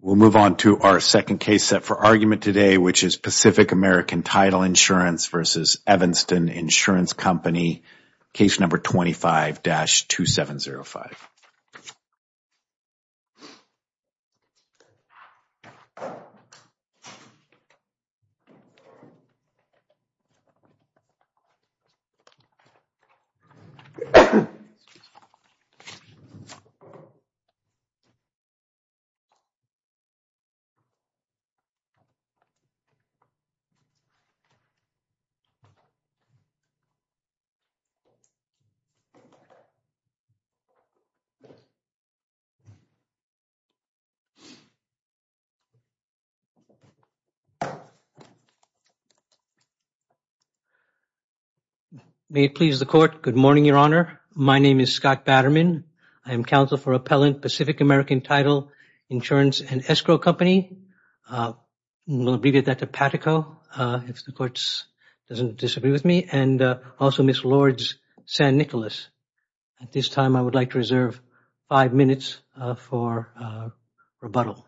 We will move on to our second case set for argument today, which is Pacific American Title Insurance v. Evanston Insurance Company, case number 25-2705. May it please the Court, good morning, Your Honor. My name is Scott Batterman. I am counsel for Appellant Pacific American Title Insurance and Escrow Company. I will abbreviate that to PATICO, if the Court does not disagree with me, and also Ms. Lourdes San Nicolas. At this time, I would like to reserve five minutes for rebuttal.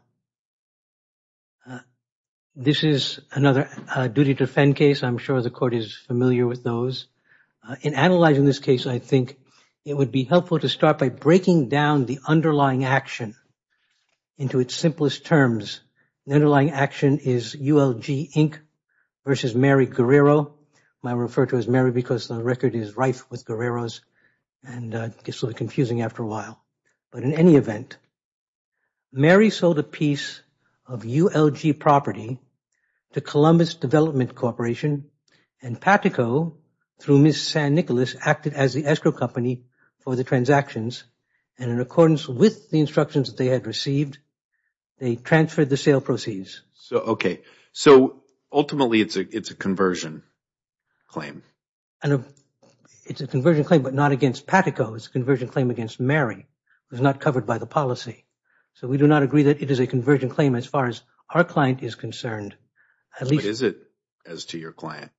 This is another duty to defend case. I am sure the Court is familiar with those. In analyzing this case, I think it would be helpful to start by breaking down the underlying action into its simplest terms. The underlying action is ULG Inc. versus Mary Guerrero. I refer to it as Mary because the record is rife with Guerreros and it gets a little confusing after a while, but in any event, Mary sold a piece of ULG property to Columbus Development Corporation and PATICO, through Ms. San Nicolas, acted as the escrow company for the transactions and in accordance with the instructions that they had received, they transferred the sale proceeds. Ultimately, it is a conversion claim. It is a conversion claim, but not against PATICO. It is a conversion claim against Mary. It was not covered by the policy. We do not agree that it is a conversion claim as far as our client is concerned. What is it as to your client?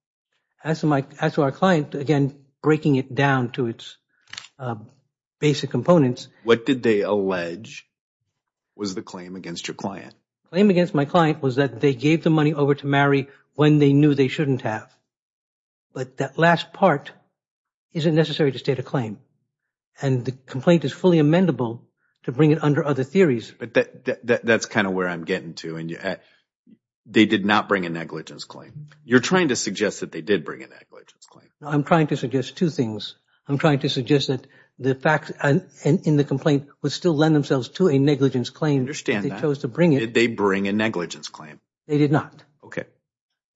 As to our client, again, breaking it down to its basic components. What did they allege was the claim against your client? Claim against my client was that they gave the money over to Mary when they knew they shouldn't have, but that last part isn't necessary to state a claim and the complaint is fully amendable to bring it under other theories. That is kind of where I am getting to. They did not bring a negligence claim. You are trying to suggest that they did bring a negligence claim. I am trying to suggest two things. I am trying to suggest that the facts in the complaint would still lend themselves to a negligence claim if they chose to bring it. Did they bring a negligence claim? They did not.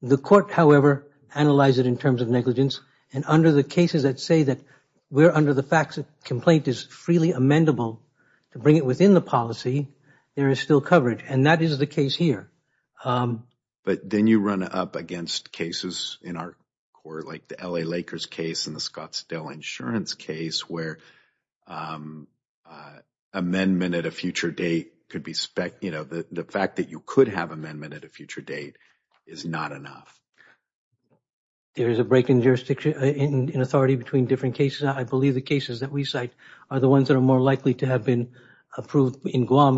The court, however, analyzed it in terms of negligence and under the cases that say that we are under the facts that the complaint is freely amendable to bring it within the policy, there is still coverage and that is the case here. But then you run up against cases in our court like the L.A. Lakers case and the Scottsdale Insurance case where amendment at a future date could be spec, you know, the fact that you could have amendment at a future date is not enough. There is a break in jurisdiction, in authority between different cases. I believe the cases that we cite are the ones that are more likely to have been approved in Guam.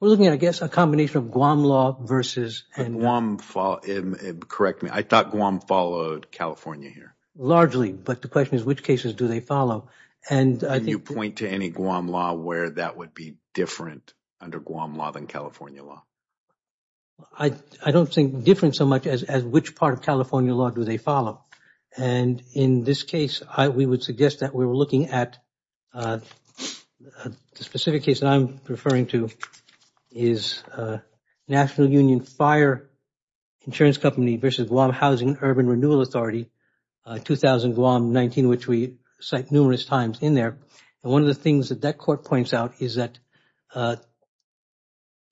We are looking at, I guess, a combination of Guam law versus But Guam, correct me, I thought Guam followed California here. Largely. But the question is which cases do they follow and Can you point to any Guam law where that would be different under Guam law than California law? I don't think different so much as which part of California law do they follow. And in this case, we would suggest that we were looking at the specific case that I am referring to is National Union Fire Insurance Company versus Guam Housing Urban Renewal Authority, 2000 Guam 19, which we cite numerous times in there. One of the things that that court points out is that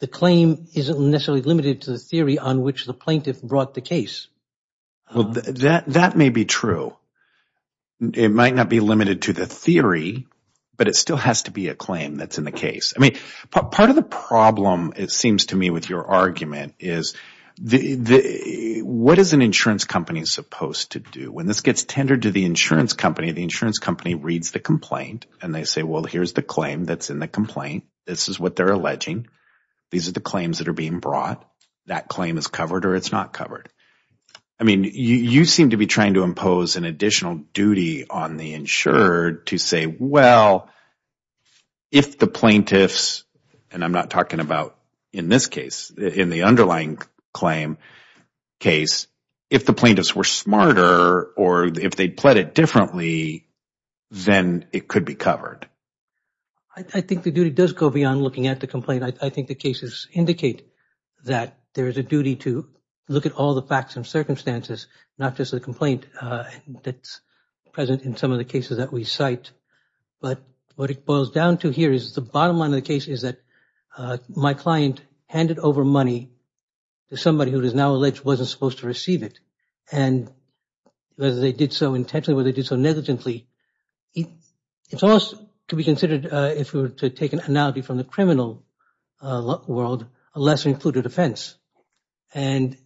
the claim isn't necessarily limited to the theory on which the plaintiff brought the case. Well, that may be true. It might not be limited to the theory, but it still has to be a claim that's in the case. I mean, part of the problem, it seems to me, with your argument is what is an insurance company supposed to do? When this gets tendered to the insurance company, the insurance company reads the complaint and they say, well, here's the claim that's in the complaint. This is what they're alleging. These are the claims that are being brought. That claim is covered or it's not covered. I mean, you seem to be trying to impose an additional duty on the insured to say, well, if the plaintiffs, and I'm not talking about in this case, in the underlying claim case, if the plaintiffs were smarter or if they pled it differently, then it could be covered. I think the duty does go beyond looking at the complaint. I think the cases indicate that there is a duty to look at all the facts and circumstances, not just the complaint that's present in some of the cases that we cite. But what it boils down to here is the bottom line of the case is that my client handed over money to somebody who is now alleged wasn't supposed to receive it. And whether they did so intentionally, whether they did so negligently, it's almost to be a less-included offense. And...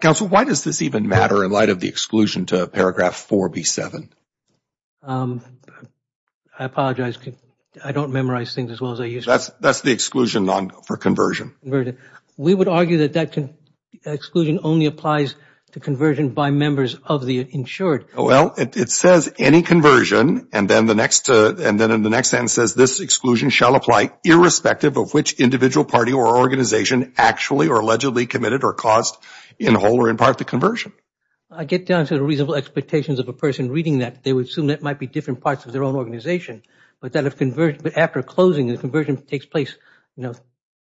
Counsel, why does this even matter in light of the exclusion to paragraph 4B7? I apologize, I don't memorize things as well as I used to. That's the exclusion for conversion. We would argue that that exclusion only applies to conversion by members of the insured. Well, it says any conversion and then in the next sentence says, this exclusion shall apply irrespective of which individual party or organization actually or allegedly committed or caused in whole or in part the conversion. I get down to the reasonable expectations of a person reading that. They would assume that might be different parts of their own organization. But after closing, the conversion takes place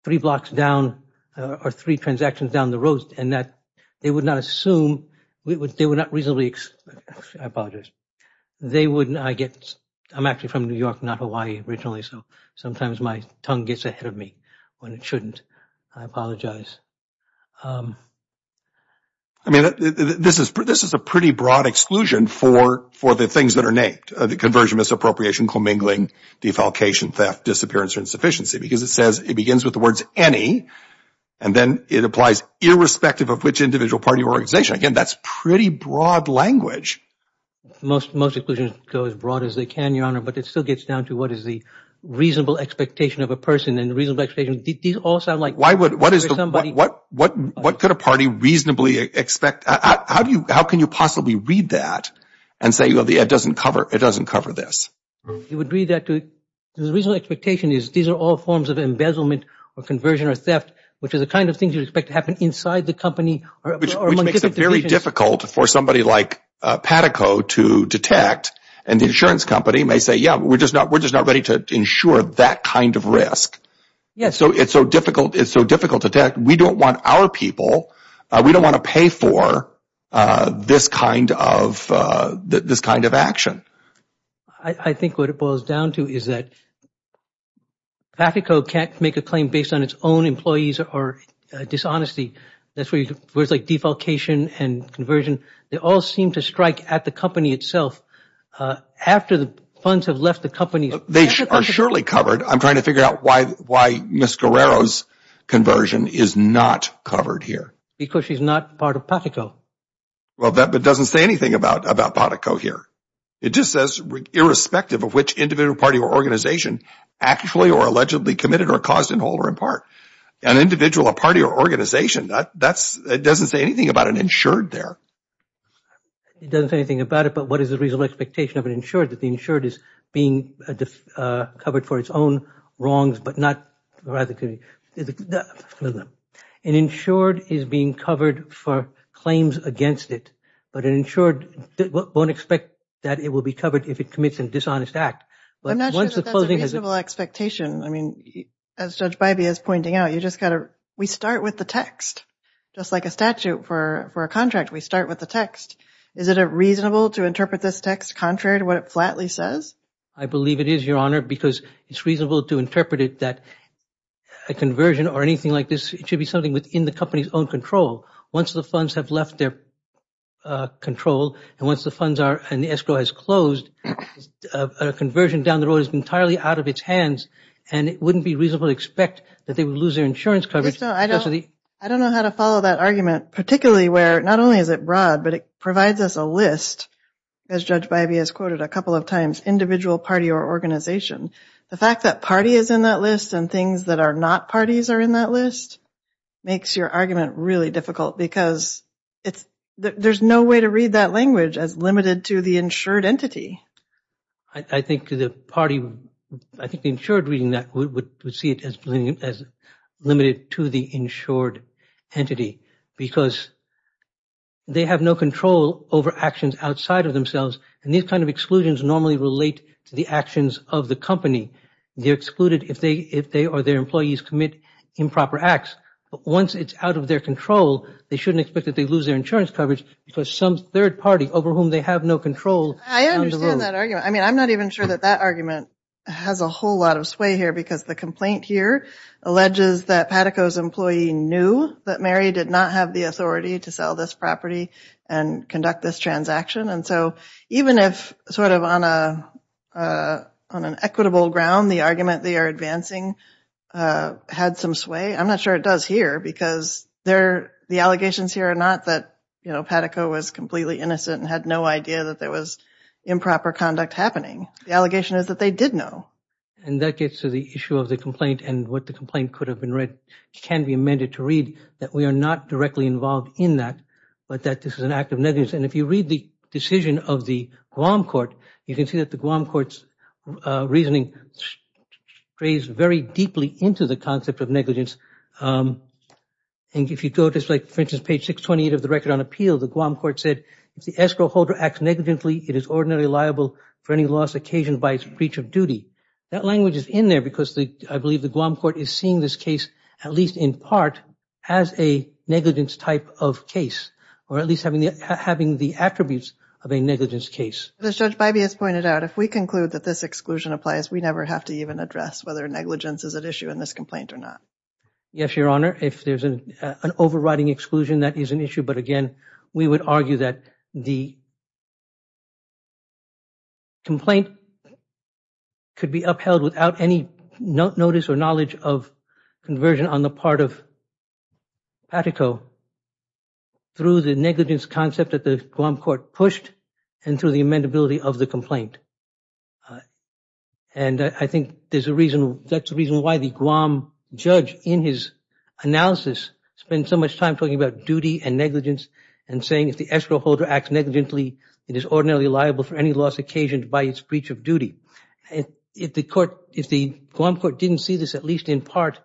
three blocks down or three transactions down the road and that they would not assume, they would not reasonably, I apologize, they would not get... I'm from New York, not Hawaii originally, so sometimes my tongue gets ahead of me when it shouldn't. I apologize. I mean, this is a pretty broad exclusion for the things that are named, the conversion, misappropriation, commingling, defalcation, theft, disappearance, or insufficiency because it says, it begins with the words any and then it applies irrespective of which individual party or organization. Again, that's pretty broad language. Most exclusions go as broad as they can, Your Honor, but it still gets down to what is the reasonable expectation of a person and the reasonable expectation... These all sound like... Why would... What is the... Somebody... What could a party reasonably expect? How do you... How can you possibly read that and say, well, it doesn't cover, it doesn't cover this? You would read that to... The reasonable expectation is these are all forms of embezzlement or conversion or theft, which is the kind of thing you'd expect to happen inside the company or among different divisions. It's very difficult for somebody like Patico to detect and the insurance company may say, yeah, we're just not ready to insure that kind of risk, so it's so difficult to detect. We don't want our people, we don't want to pay for this kind of action. I think what it boils down to is that Patico can't make a claim based on its own employees or dishonesty. That's where you... Where it's like defalcation and conversion, they all seem to strike at the company itself. After the funds have left the company... They are surely covered. I'm trying to figure out why Ms. Guerrero's conversion is not covered here. Because she's not part of Patico. Well, that doesn't say anything about Patico here. It just says irrespective of which individual party or organization actually or allegedly committed or caused in whole or in part. An individual, a party or organization, that doesn't say anything about an insured there. It doesn't say anything about it, but what is the reasonable expectation of an insured that the insured is being covered for its own wrongs, but not rather... An insured is being covered for claims against it, but an insured won't expect that it will be covered if it commits a dishonest act. I'm not sure that that's a reasonable expectation. I mean, as Judge Bybee is pointing out, we start with the text, just like a statute for a contract. We start with the text. Is it reasonable to interpret this text contrary to what it flatly says? I believe it is, Your Honor, because it's reasonable to interpret it that a conversion or anything like this, it should be something within the company's own control. Once the funds have left their control and once the funds are... and the escrow has closed, a conversion down the road is entirely out of its hands, and it wouldn't be reasonable to expect that they would lose their insurance coverage... I don't know how to follow that argument, particularly where not only is it broad, but it provides us a list, as Judge Bybee has quoted a couple of times, individual, party or organization. The fact that party is in that list and things that are not parties are in that list makes your argument really difficult because there's no way to read that language as limited to the insured entity. I think the party... I think the insured reading that would see it as limited to the insured entity because they have no control over actions outside of themselves, and these kind of exclusions normally relate to the actions of the company. They're excluded if they or their employees commit improper acts. Once it's out of their control, they shouldn't expect that they lose their insurance coverage because some third party over whom they have no control... I understand that argument. I mean, I'm not even sure that that argument has a whole lot of sway here because the complaint here alleges that Pataco's employee knew that Mary did not have the authority to sell this property and conduct this transaction, and so even if sort of on an equitable ground the argument they are advancing had some sway, I'm not sure it does here because the allegations here are not that Pataco was completely innocent and had no idea that there was improper conduct happening. The allegation is that they did know. And that gets to the issue of the complaint and what the complaint could have been read can be amended to read that we are not directly involved in that, but that this is an act of negligence. And if you read the decision of the Guam court, you can see that the Guam court's reasoning grazed very deeply into the concept of negligence. And if you go to, for instance, page 628 of the record on appeal, the Guam court said if the escrow holder acts negligently, it is ordinarily liable for any loss occasioned by its breach of duty. That language is in there because I believe the Guam court is seeing this case at least in part as a negligence type of case or at least having the attributes of a negligence case. As Judge Bybee has pointed out, if we conclude that this exclusion applies, we never have to even address whether negligence is at issue in this complaint or not. Yes, Your Honor. If there's an overriding exclusion, that is an issue. But again, we would argue that the complaint could be upheld without any notice or knowledge of conversion on the part of Pataco through the negligence concept that the Guam court pushed and through the amendability of the complaint. And I think that's the reason why the Guam judge in his analysis spent so much time talking about duty and negligence and saying if the escrow holder acts negligently, it is ordinarily liable for any loss occasioned by its breach of duty. If the Guam court didn't see this at least in part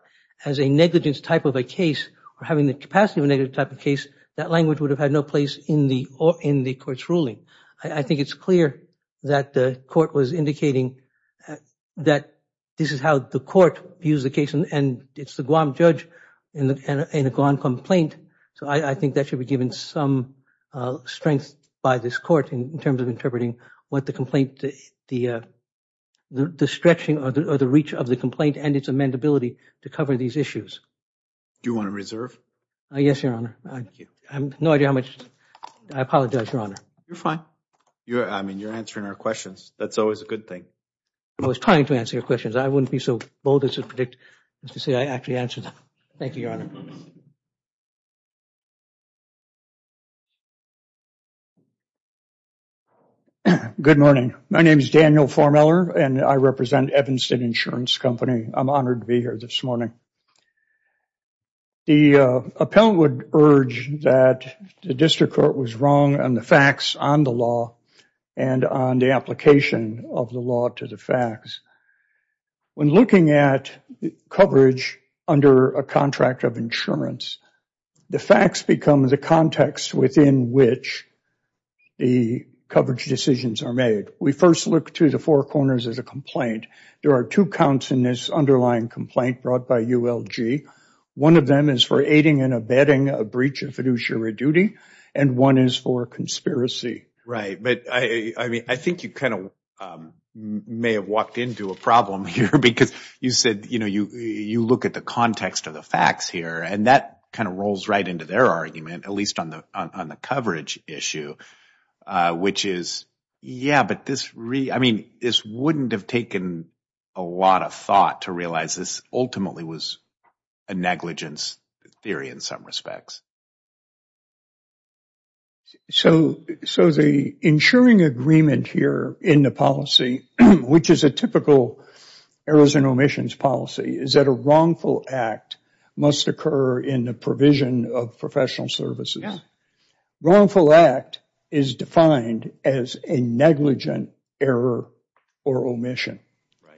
as a negligence type of a case or having the capacity of a negligence type of case, that language would have had no place in the court's ruling. I think it's clear that the court was indicating that this is how the court views the case and it's the Guam judge in a Guam complaint, so I think that should be given some strength by this court in terms of interpreting what the complaint, the stretching or the reach of the complaint and its amendability to cover these issues. Do you want to reserve? Yes, Your Honor. Thank you. I have no idea how much. I apologize, Your Honor. You're fine. I mean, you're answering our questions. That's always a good thing. I was trying to answer your questions. I wouldn't be so bold as to predict as to say I actually answered them. Thank you, Your Honor. Good morning. My name is Daniel Formeller and I represent Evanston Insurance Company. I'm honored to be here this morning. The appellant would urge that the district court was wrong on the facts on the law and on the application of the law to the facts. When looking at coverage under a contract of insurance, the facts become the context within which the coverage decisions are made. We first look to the four corners of the complaint. There are two counts in this underlying complaint brought by ULG. One of them is for aiding and abetting a breach of fiduciary duty and one is for conspiracy. Right. But I think you kind of may have walked into a problem here because you said you look at the context of the facts here and that kind of rolls right into their argument, at least on the coverage issue, which is, yeah, but this wouldn't have taken a lot of thought to realize this ultimately was a negligence theory in some respects. So the insuring agreement here in the policy, which is a typical errors and omissions policy, is that a wrongful act must occur in the provision of professional services. Wrongful act is defined as a negligent error or omission.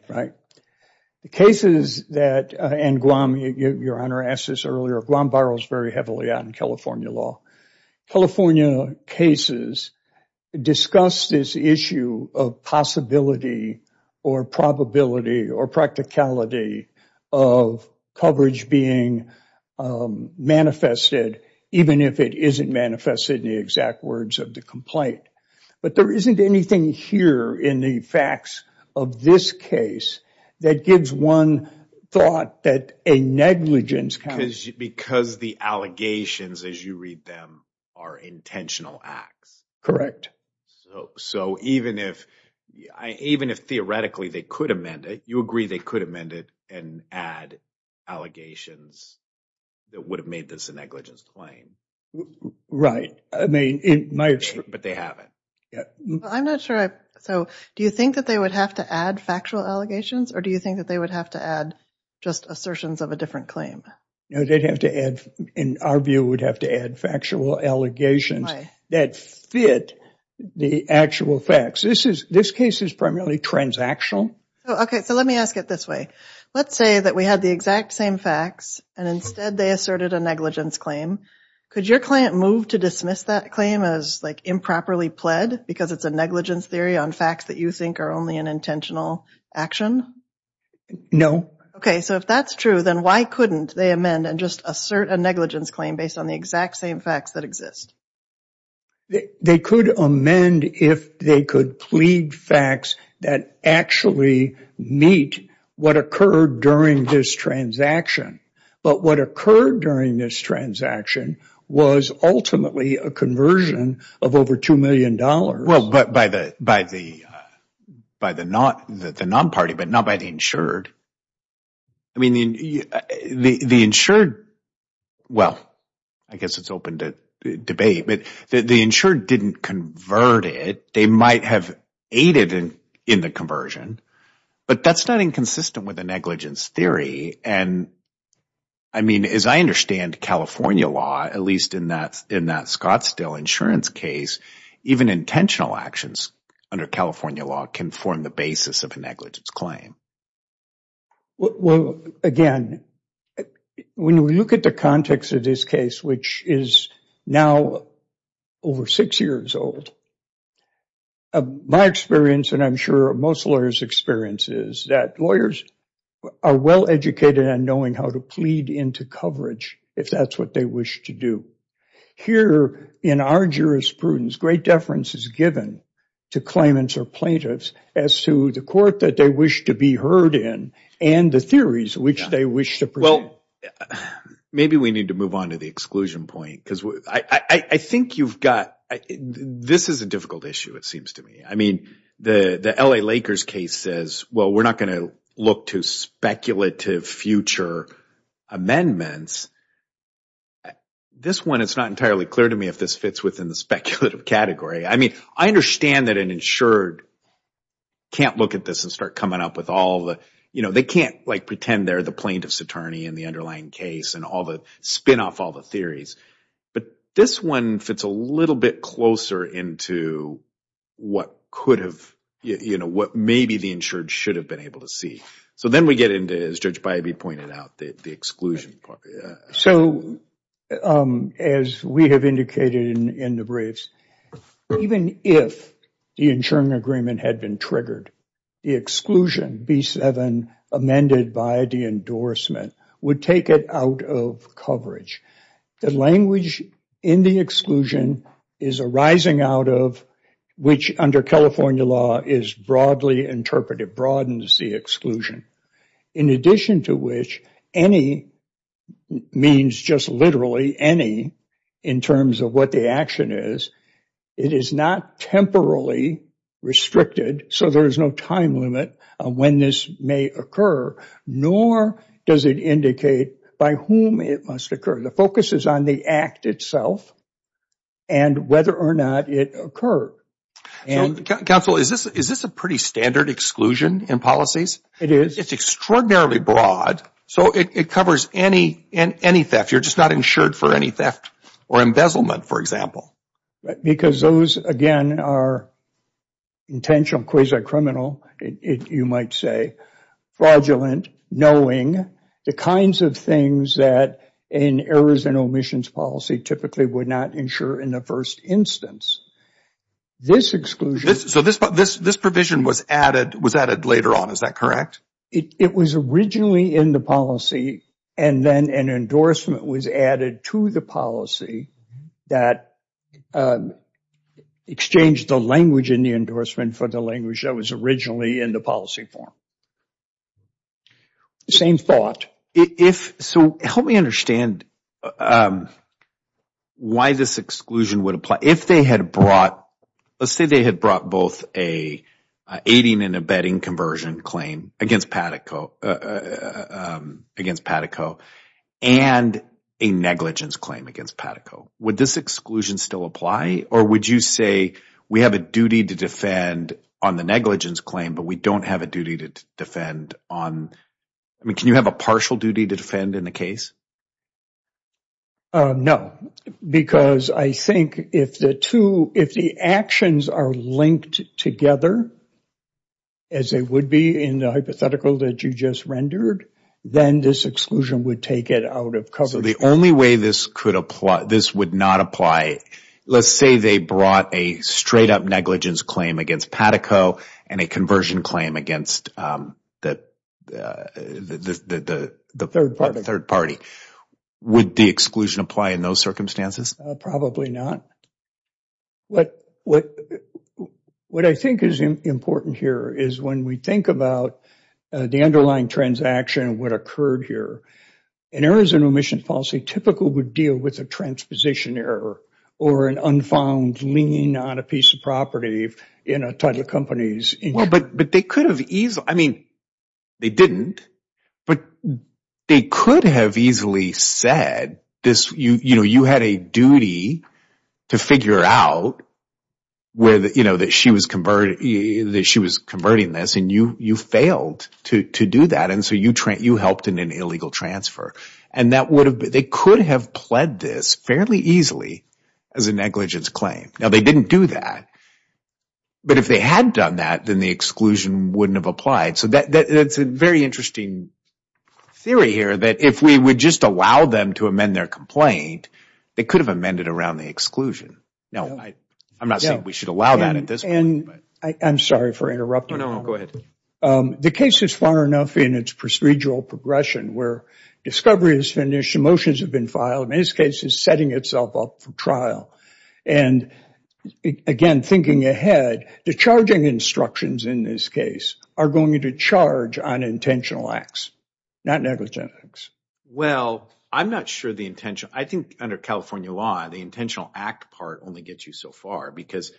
The cases that, and Guam, your honor asked this earlier, Guam borrows very heavily out in California law, California cases discuss this issue of possibility or probability or practicality of coverage being manifested, even if it isn't manifested in the exact words of the complaint. But there isn't anything here in the facts of this case that gives one thought that a negligence kind of- Because the allegations, as you read them, are intentional acts. Correct. So even if, even if theoretically they could amend it, you agree they could amend it and add allegations that would have made this a negligence claim? Right. I mean, in my- But they haven't. Yeah. I'm not sure I, so do you think that they would have to add factual allegations or do you think that they would have to add just assertions of a different claim? No, they'd have to add, in our view, would have to add factual allegations that fit the actual facts. This is, this case is primarily transactional. Okay, so let me ask it this way. Let's say that we had the exact same facts and instead they asserted a negligence claim. Could your client move to dismiss that claim as like improperly pled because it's a negligence theory on facts that you think are only an intentional action? No. Okay, so if that's true, then why couldn't they amend and just assert a negligence claim based on the exact same facts that exist? They could amend if they could plead facts that actually meet what occurred during this transaction, but what occurred during this transaction was ultimately a conversion of over $2 million. Well, but by the non-party, but not by the insured, I mean, the insured, well, I guess it's open to debate, but the insured didn't convert it. They might have aided in the conversion, but that's not inconsistent with the negligence theory and I mean, as I understand California law, at least in that Scottsdale insurance case, even intentional actions under California law can form the basis of a negligence claim. Well, again, when we look at the context of this case, which is now over six years old, my experience and I'm sure most lawyers' experience is that lawyers are well-educated in knowing how to plead into coverage if that's what they wish to do. Here in our jurisprudence, great deference is given to claimants or plaintiffs as to the court that they wish to be heard in and the theories which they wish to present. Maybe we need to move on to the exclusion point because I think you've got, this is a difficult issue, it seems to me. I mean, the L.A. Lakers case says, well, we're not going to look to speculative future amendments. This one, it's not entirely clear to me if this fits within the speculative category. I mean, I understand that an insured can't look at this and start coming up with all the, you know, they can't like pretend they're the plaintiff's attorney in the underlying case and all the, spin off all the theories, but this one fits a little bit closer into what could have, you know, what maybe the insured should have been able to see. Then we get into, as Judge Bybee pointed out, the exclusion part. As we have indicated in the briefs, even if the insuring agreement had been triggered, the exclusion, B7, amended by the endorsement would take it out of coverage. The language in the exclusion is arising out of, which under California law is broadly interpreted, broadens the exclusion. In addition to which, any, means just literally any, in terms of what the action is, it is not temporarily restricted, so there is no time limit on when this may occur, nor does it indicate by whom it must occur. The focus is on the act itself and whether or not it occurred. And counsel, is this a pretty standard exclusion in policies? It is. It's extraordinarily broad, so it covers any theft. You're just not insured for any theft or embezzlement, for example. Because those, again, are intentional, quasi-criminal, you might say. Fraudulent, knowing the kinds of things that an errors and omissions policy typically would ensure in the first instance. This exclusion... So this provision was added later on, is that correct? It was originally in the policy, and then an endorsement was added to the policy that exchanged the language in the endorsement for the language that was originally in the policy form. Same thought. So help me understand why this exclusion would apply. If they had brought, let's say they had brought both an aiding and abetting conversion claim against Patico and a negligence claim against Patico, would this exclusion still apply? Or would you say, we have a duty to defend on the negligence claim, but we don't have a duty to defend on... Can you have a partial duty to defend in the case? No, because I think if the actions are linked together, as they would be in the hypothetical that you just rendered, then this exclusion would take it out of coverage. So the only way this would not apply, let's say they brought a straight-up negligence claim against Patico and a conversion claim against the third party, would the exclusion apply in those circumstances? Probably not. What I think is important here is when we think about the underlying transaction, what occurred here, an errors in remission policy typically would deal with a transposition error or an unfound lien on a piece of property in a title company's income. Well, but they could have easily... I mean, they didn't, but they could have easily said, you had a duty to figure out that she was converting this and you failed to do that and so you helped in an illegal transfer. And that would have... They could have pled this fairly easily as a negligence claim. Now, they didn't do that, but if they had done that, then the exclusion wouldn't have applied. So that's a very interesting theory here, that if we would just allow them to amend their complaint, they could have amended around the exclusion. Now, I'm not saying we should allow that at this point, but... I'm sorry for interrupting. Oh, no, go ahead. The case is far enough in its procedural progression where discovery is finished, the motions have been filed, and this case is setting itself up for trial. And again, thinking ahead, the charging instructions in this case are going to charge on intentional acts, not negligent acts. Well, I'm not sure the intention... I think under California law, the intentional act part only gets you so far because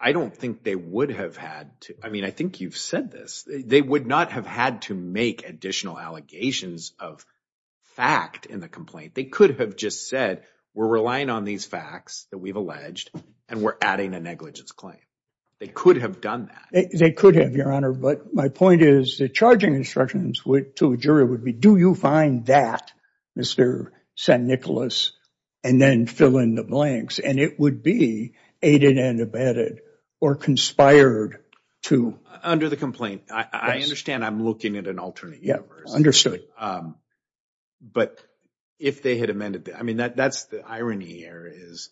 I don't think they would have had to... I think you've said this. They would not have had to make additional allegations of fact in the complaint. They could have just said, we're relying on these facts that we've alleged, and we're adding a negligence claim. They could have done that. They could have, Your Honor, but my point is the charging instructions to a jury would be, do you find that, Mr. St. Nicholas, and then fill in the blanks. And it would be aided and abetted or conspired to... Under the complaint. I understand I'm looking at an alternate universe. But if they had amended... I mean, that's the irony here is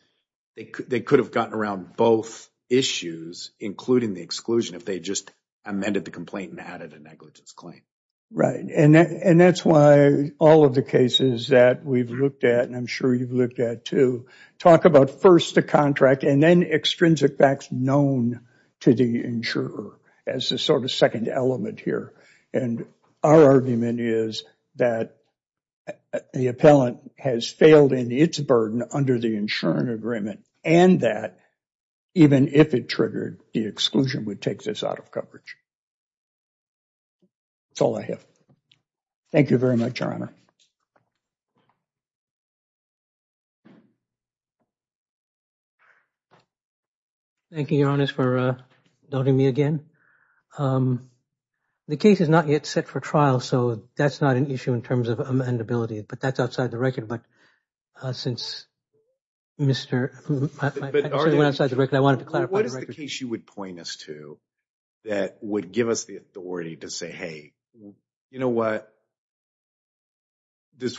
they could have gotten around both issues, including the exclusion, if they just amended the complaint and added a negligence claim. Right. And that's why all of the cases that we've looked at, and I'm sure you've looked at too, talk about first the contract and then extrinsic facts known to the insurer as a sort of second element here. And our argument is that the appellant has failed in its burden under the insurance agreement and that even if it triggered, the exclusion would take this out of coverage. That's all I have. Thank you very much, Your Honor. Thank you, Your Honor, for doubting me again. The case is not yet set for trial, so that's not an issue in terms of amendability, but that's outside the record. But since Mr. St. Nicholas went outside the record, I wanted to clarify the record. What is the case you would point us to that would give us the authority to say, hey, you know, this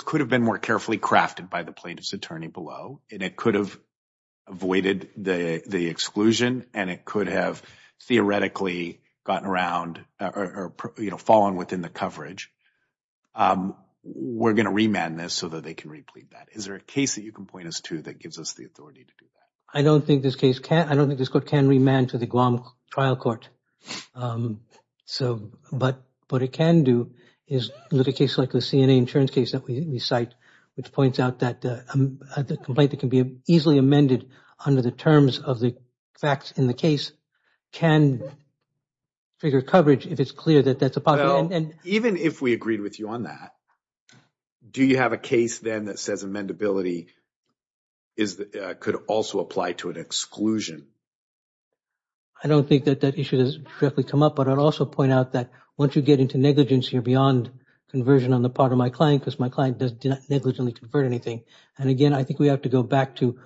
could have been more carefully crafted by the plaintiff's attorney below, and it could have avoided the exclusion, and it could have theoretically fallen within the coverage. We're going to remand this so that they can replead that. Is there a case that you can point us to that gives us the authority to do that? I don't think this case can. I don't think this court can remand to the Guam trial court. But what it can do is look at cases like the CNA insurance case that we cite, which points out that a complaint that can be easily amended under the terms of the facts in the case can figure coverage if it's clear that that's a possible end. Even if we agreed with you on that, do you have a case then that says amendability could also apply to an exclusion? I don't think that that issue has directly come up. But I'd also point out that once you get into negligence here beyond conversion on the part of my client, because my client does not negligently convert anything. And again, I think we have to go back to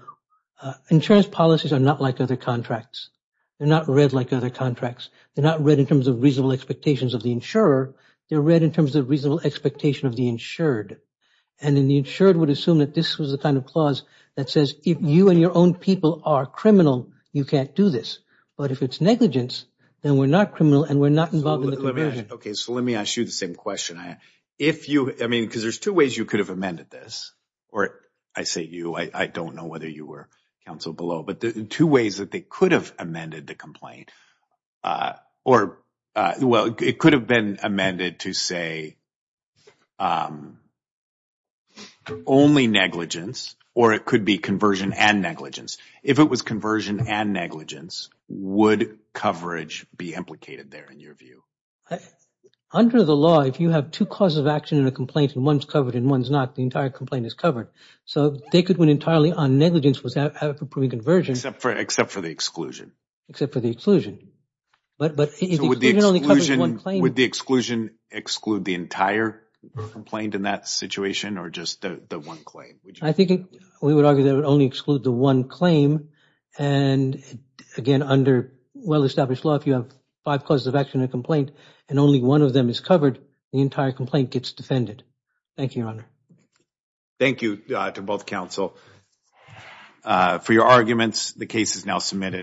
insurance policies are not like other contracts. They're not read like other contracts. They're not read in terms of reasonable expectations of the insurer. They're read in terms of reasonable expectation of the insured. And then the insured would assume that this was the kind of clause that says if you and your own people are criminal, you can't do this. But if it's negligence, then we're not criminal and we're not involved in the conversion. OK, so let me ask you the same question. If you I mean, because there's two ways you could have amended this or I say you, I don't know whether you were counsel below. But the two ways that they could have amended the complaint or well, it could have been amended to say only negligence or it could be conversion and negligence. If it was conversion and negligence, would coverage be implicated there in your view? Under the law, if you have two causes of action in a complaint and one's covered and one's not, the entire complaint is covered. So they could win entirely on negligence. Was that a proven conversion? Except for the exclusion. Except for the exclusion. But would the exclusion exclude the entire complaint in that situation or just the one claim? I think we would argue that would only exclude the one claim. And again, under well-established law, if you have five causes of action in a complaint and only one of them is covered, the entire complaint gets defended. Thank you, Your Honor. Thank you to both counsel for your arguments. The case is now submitted.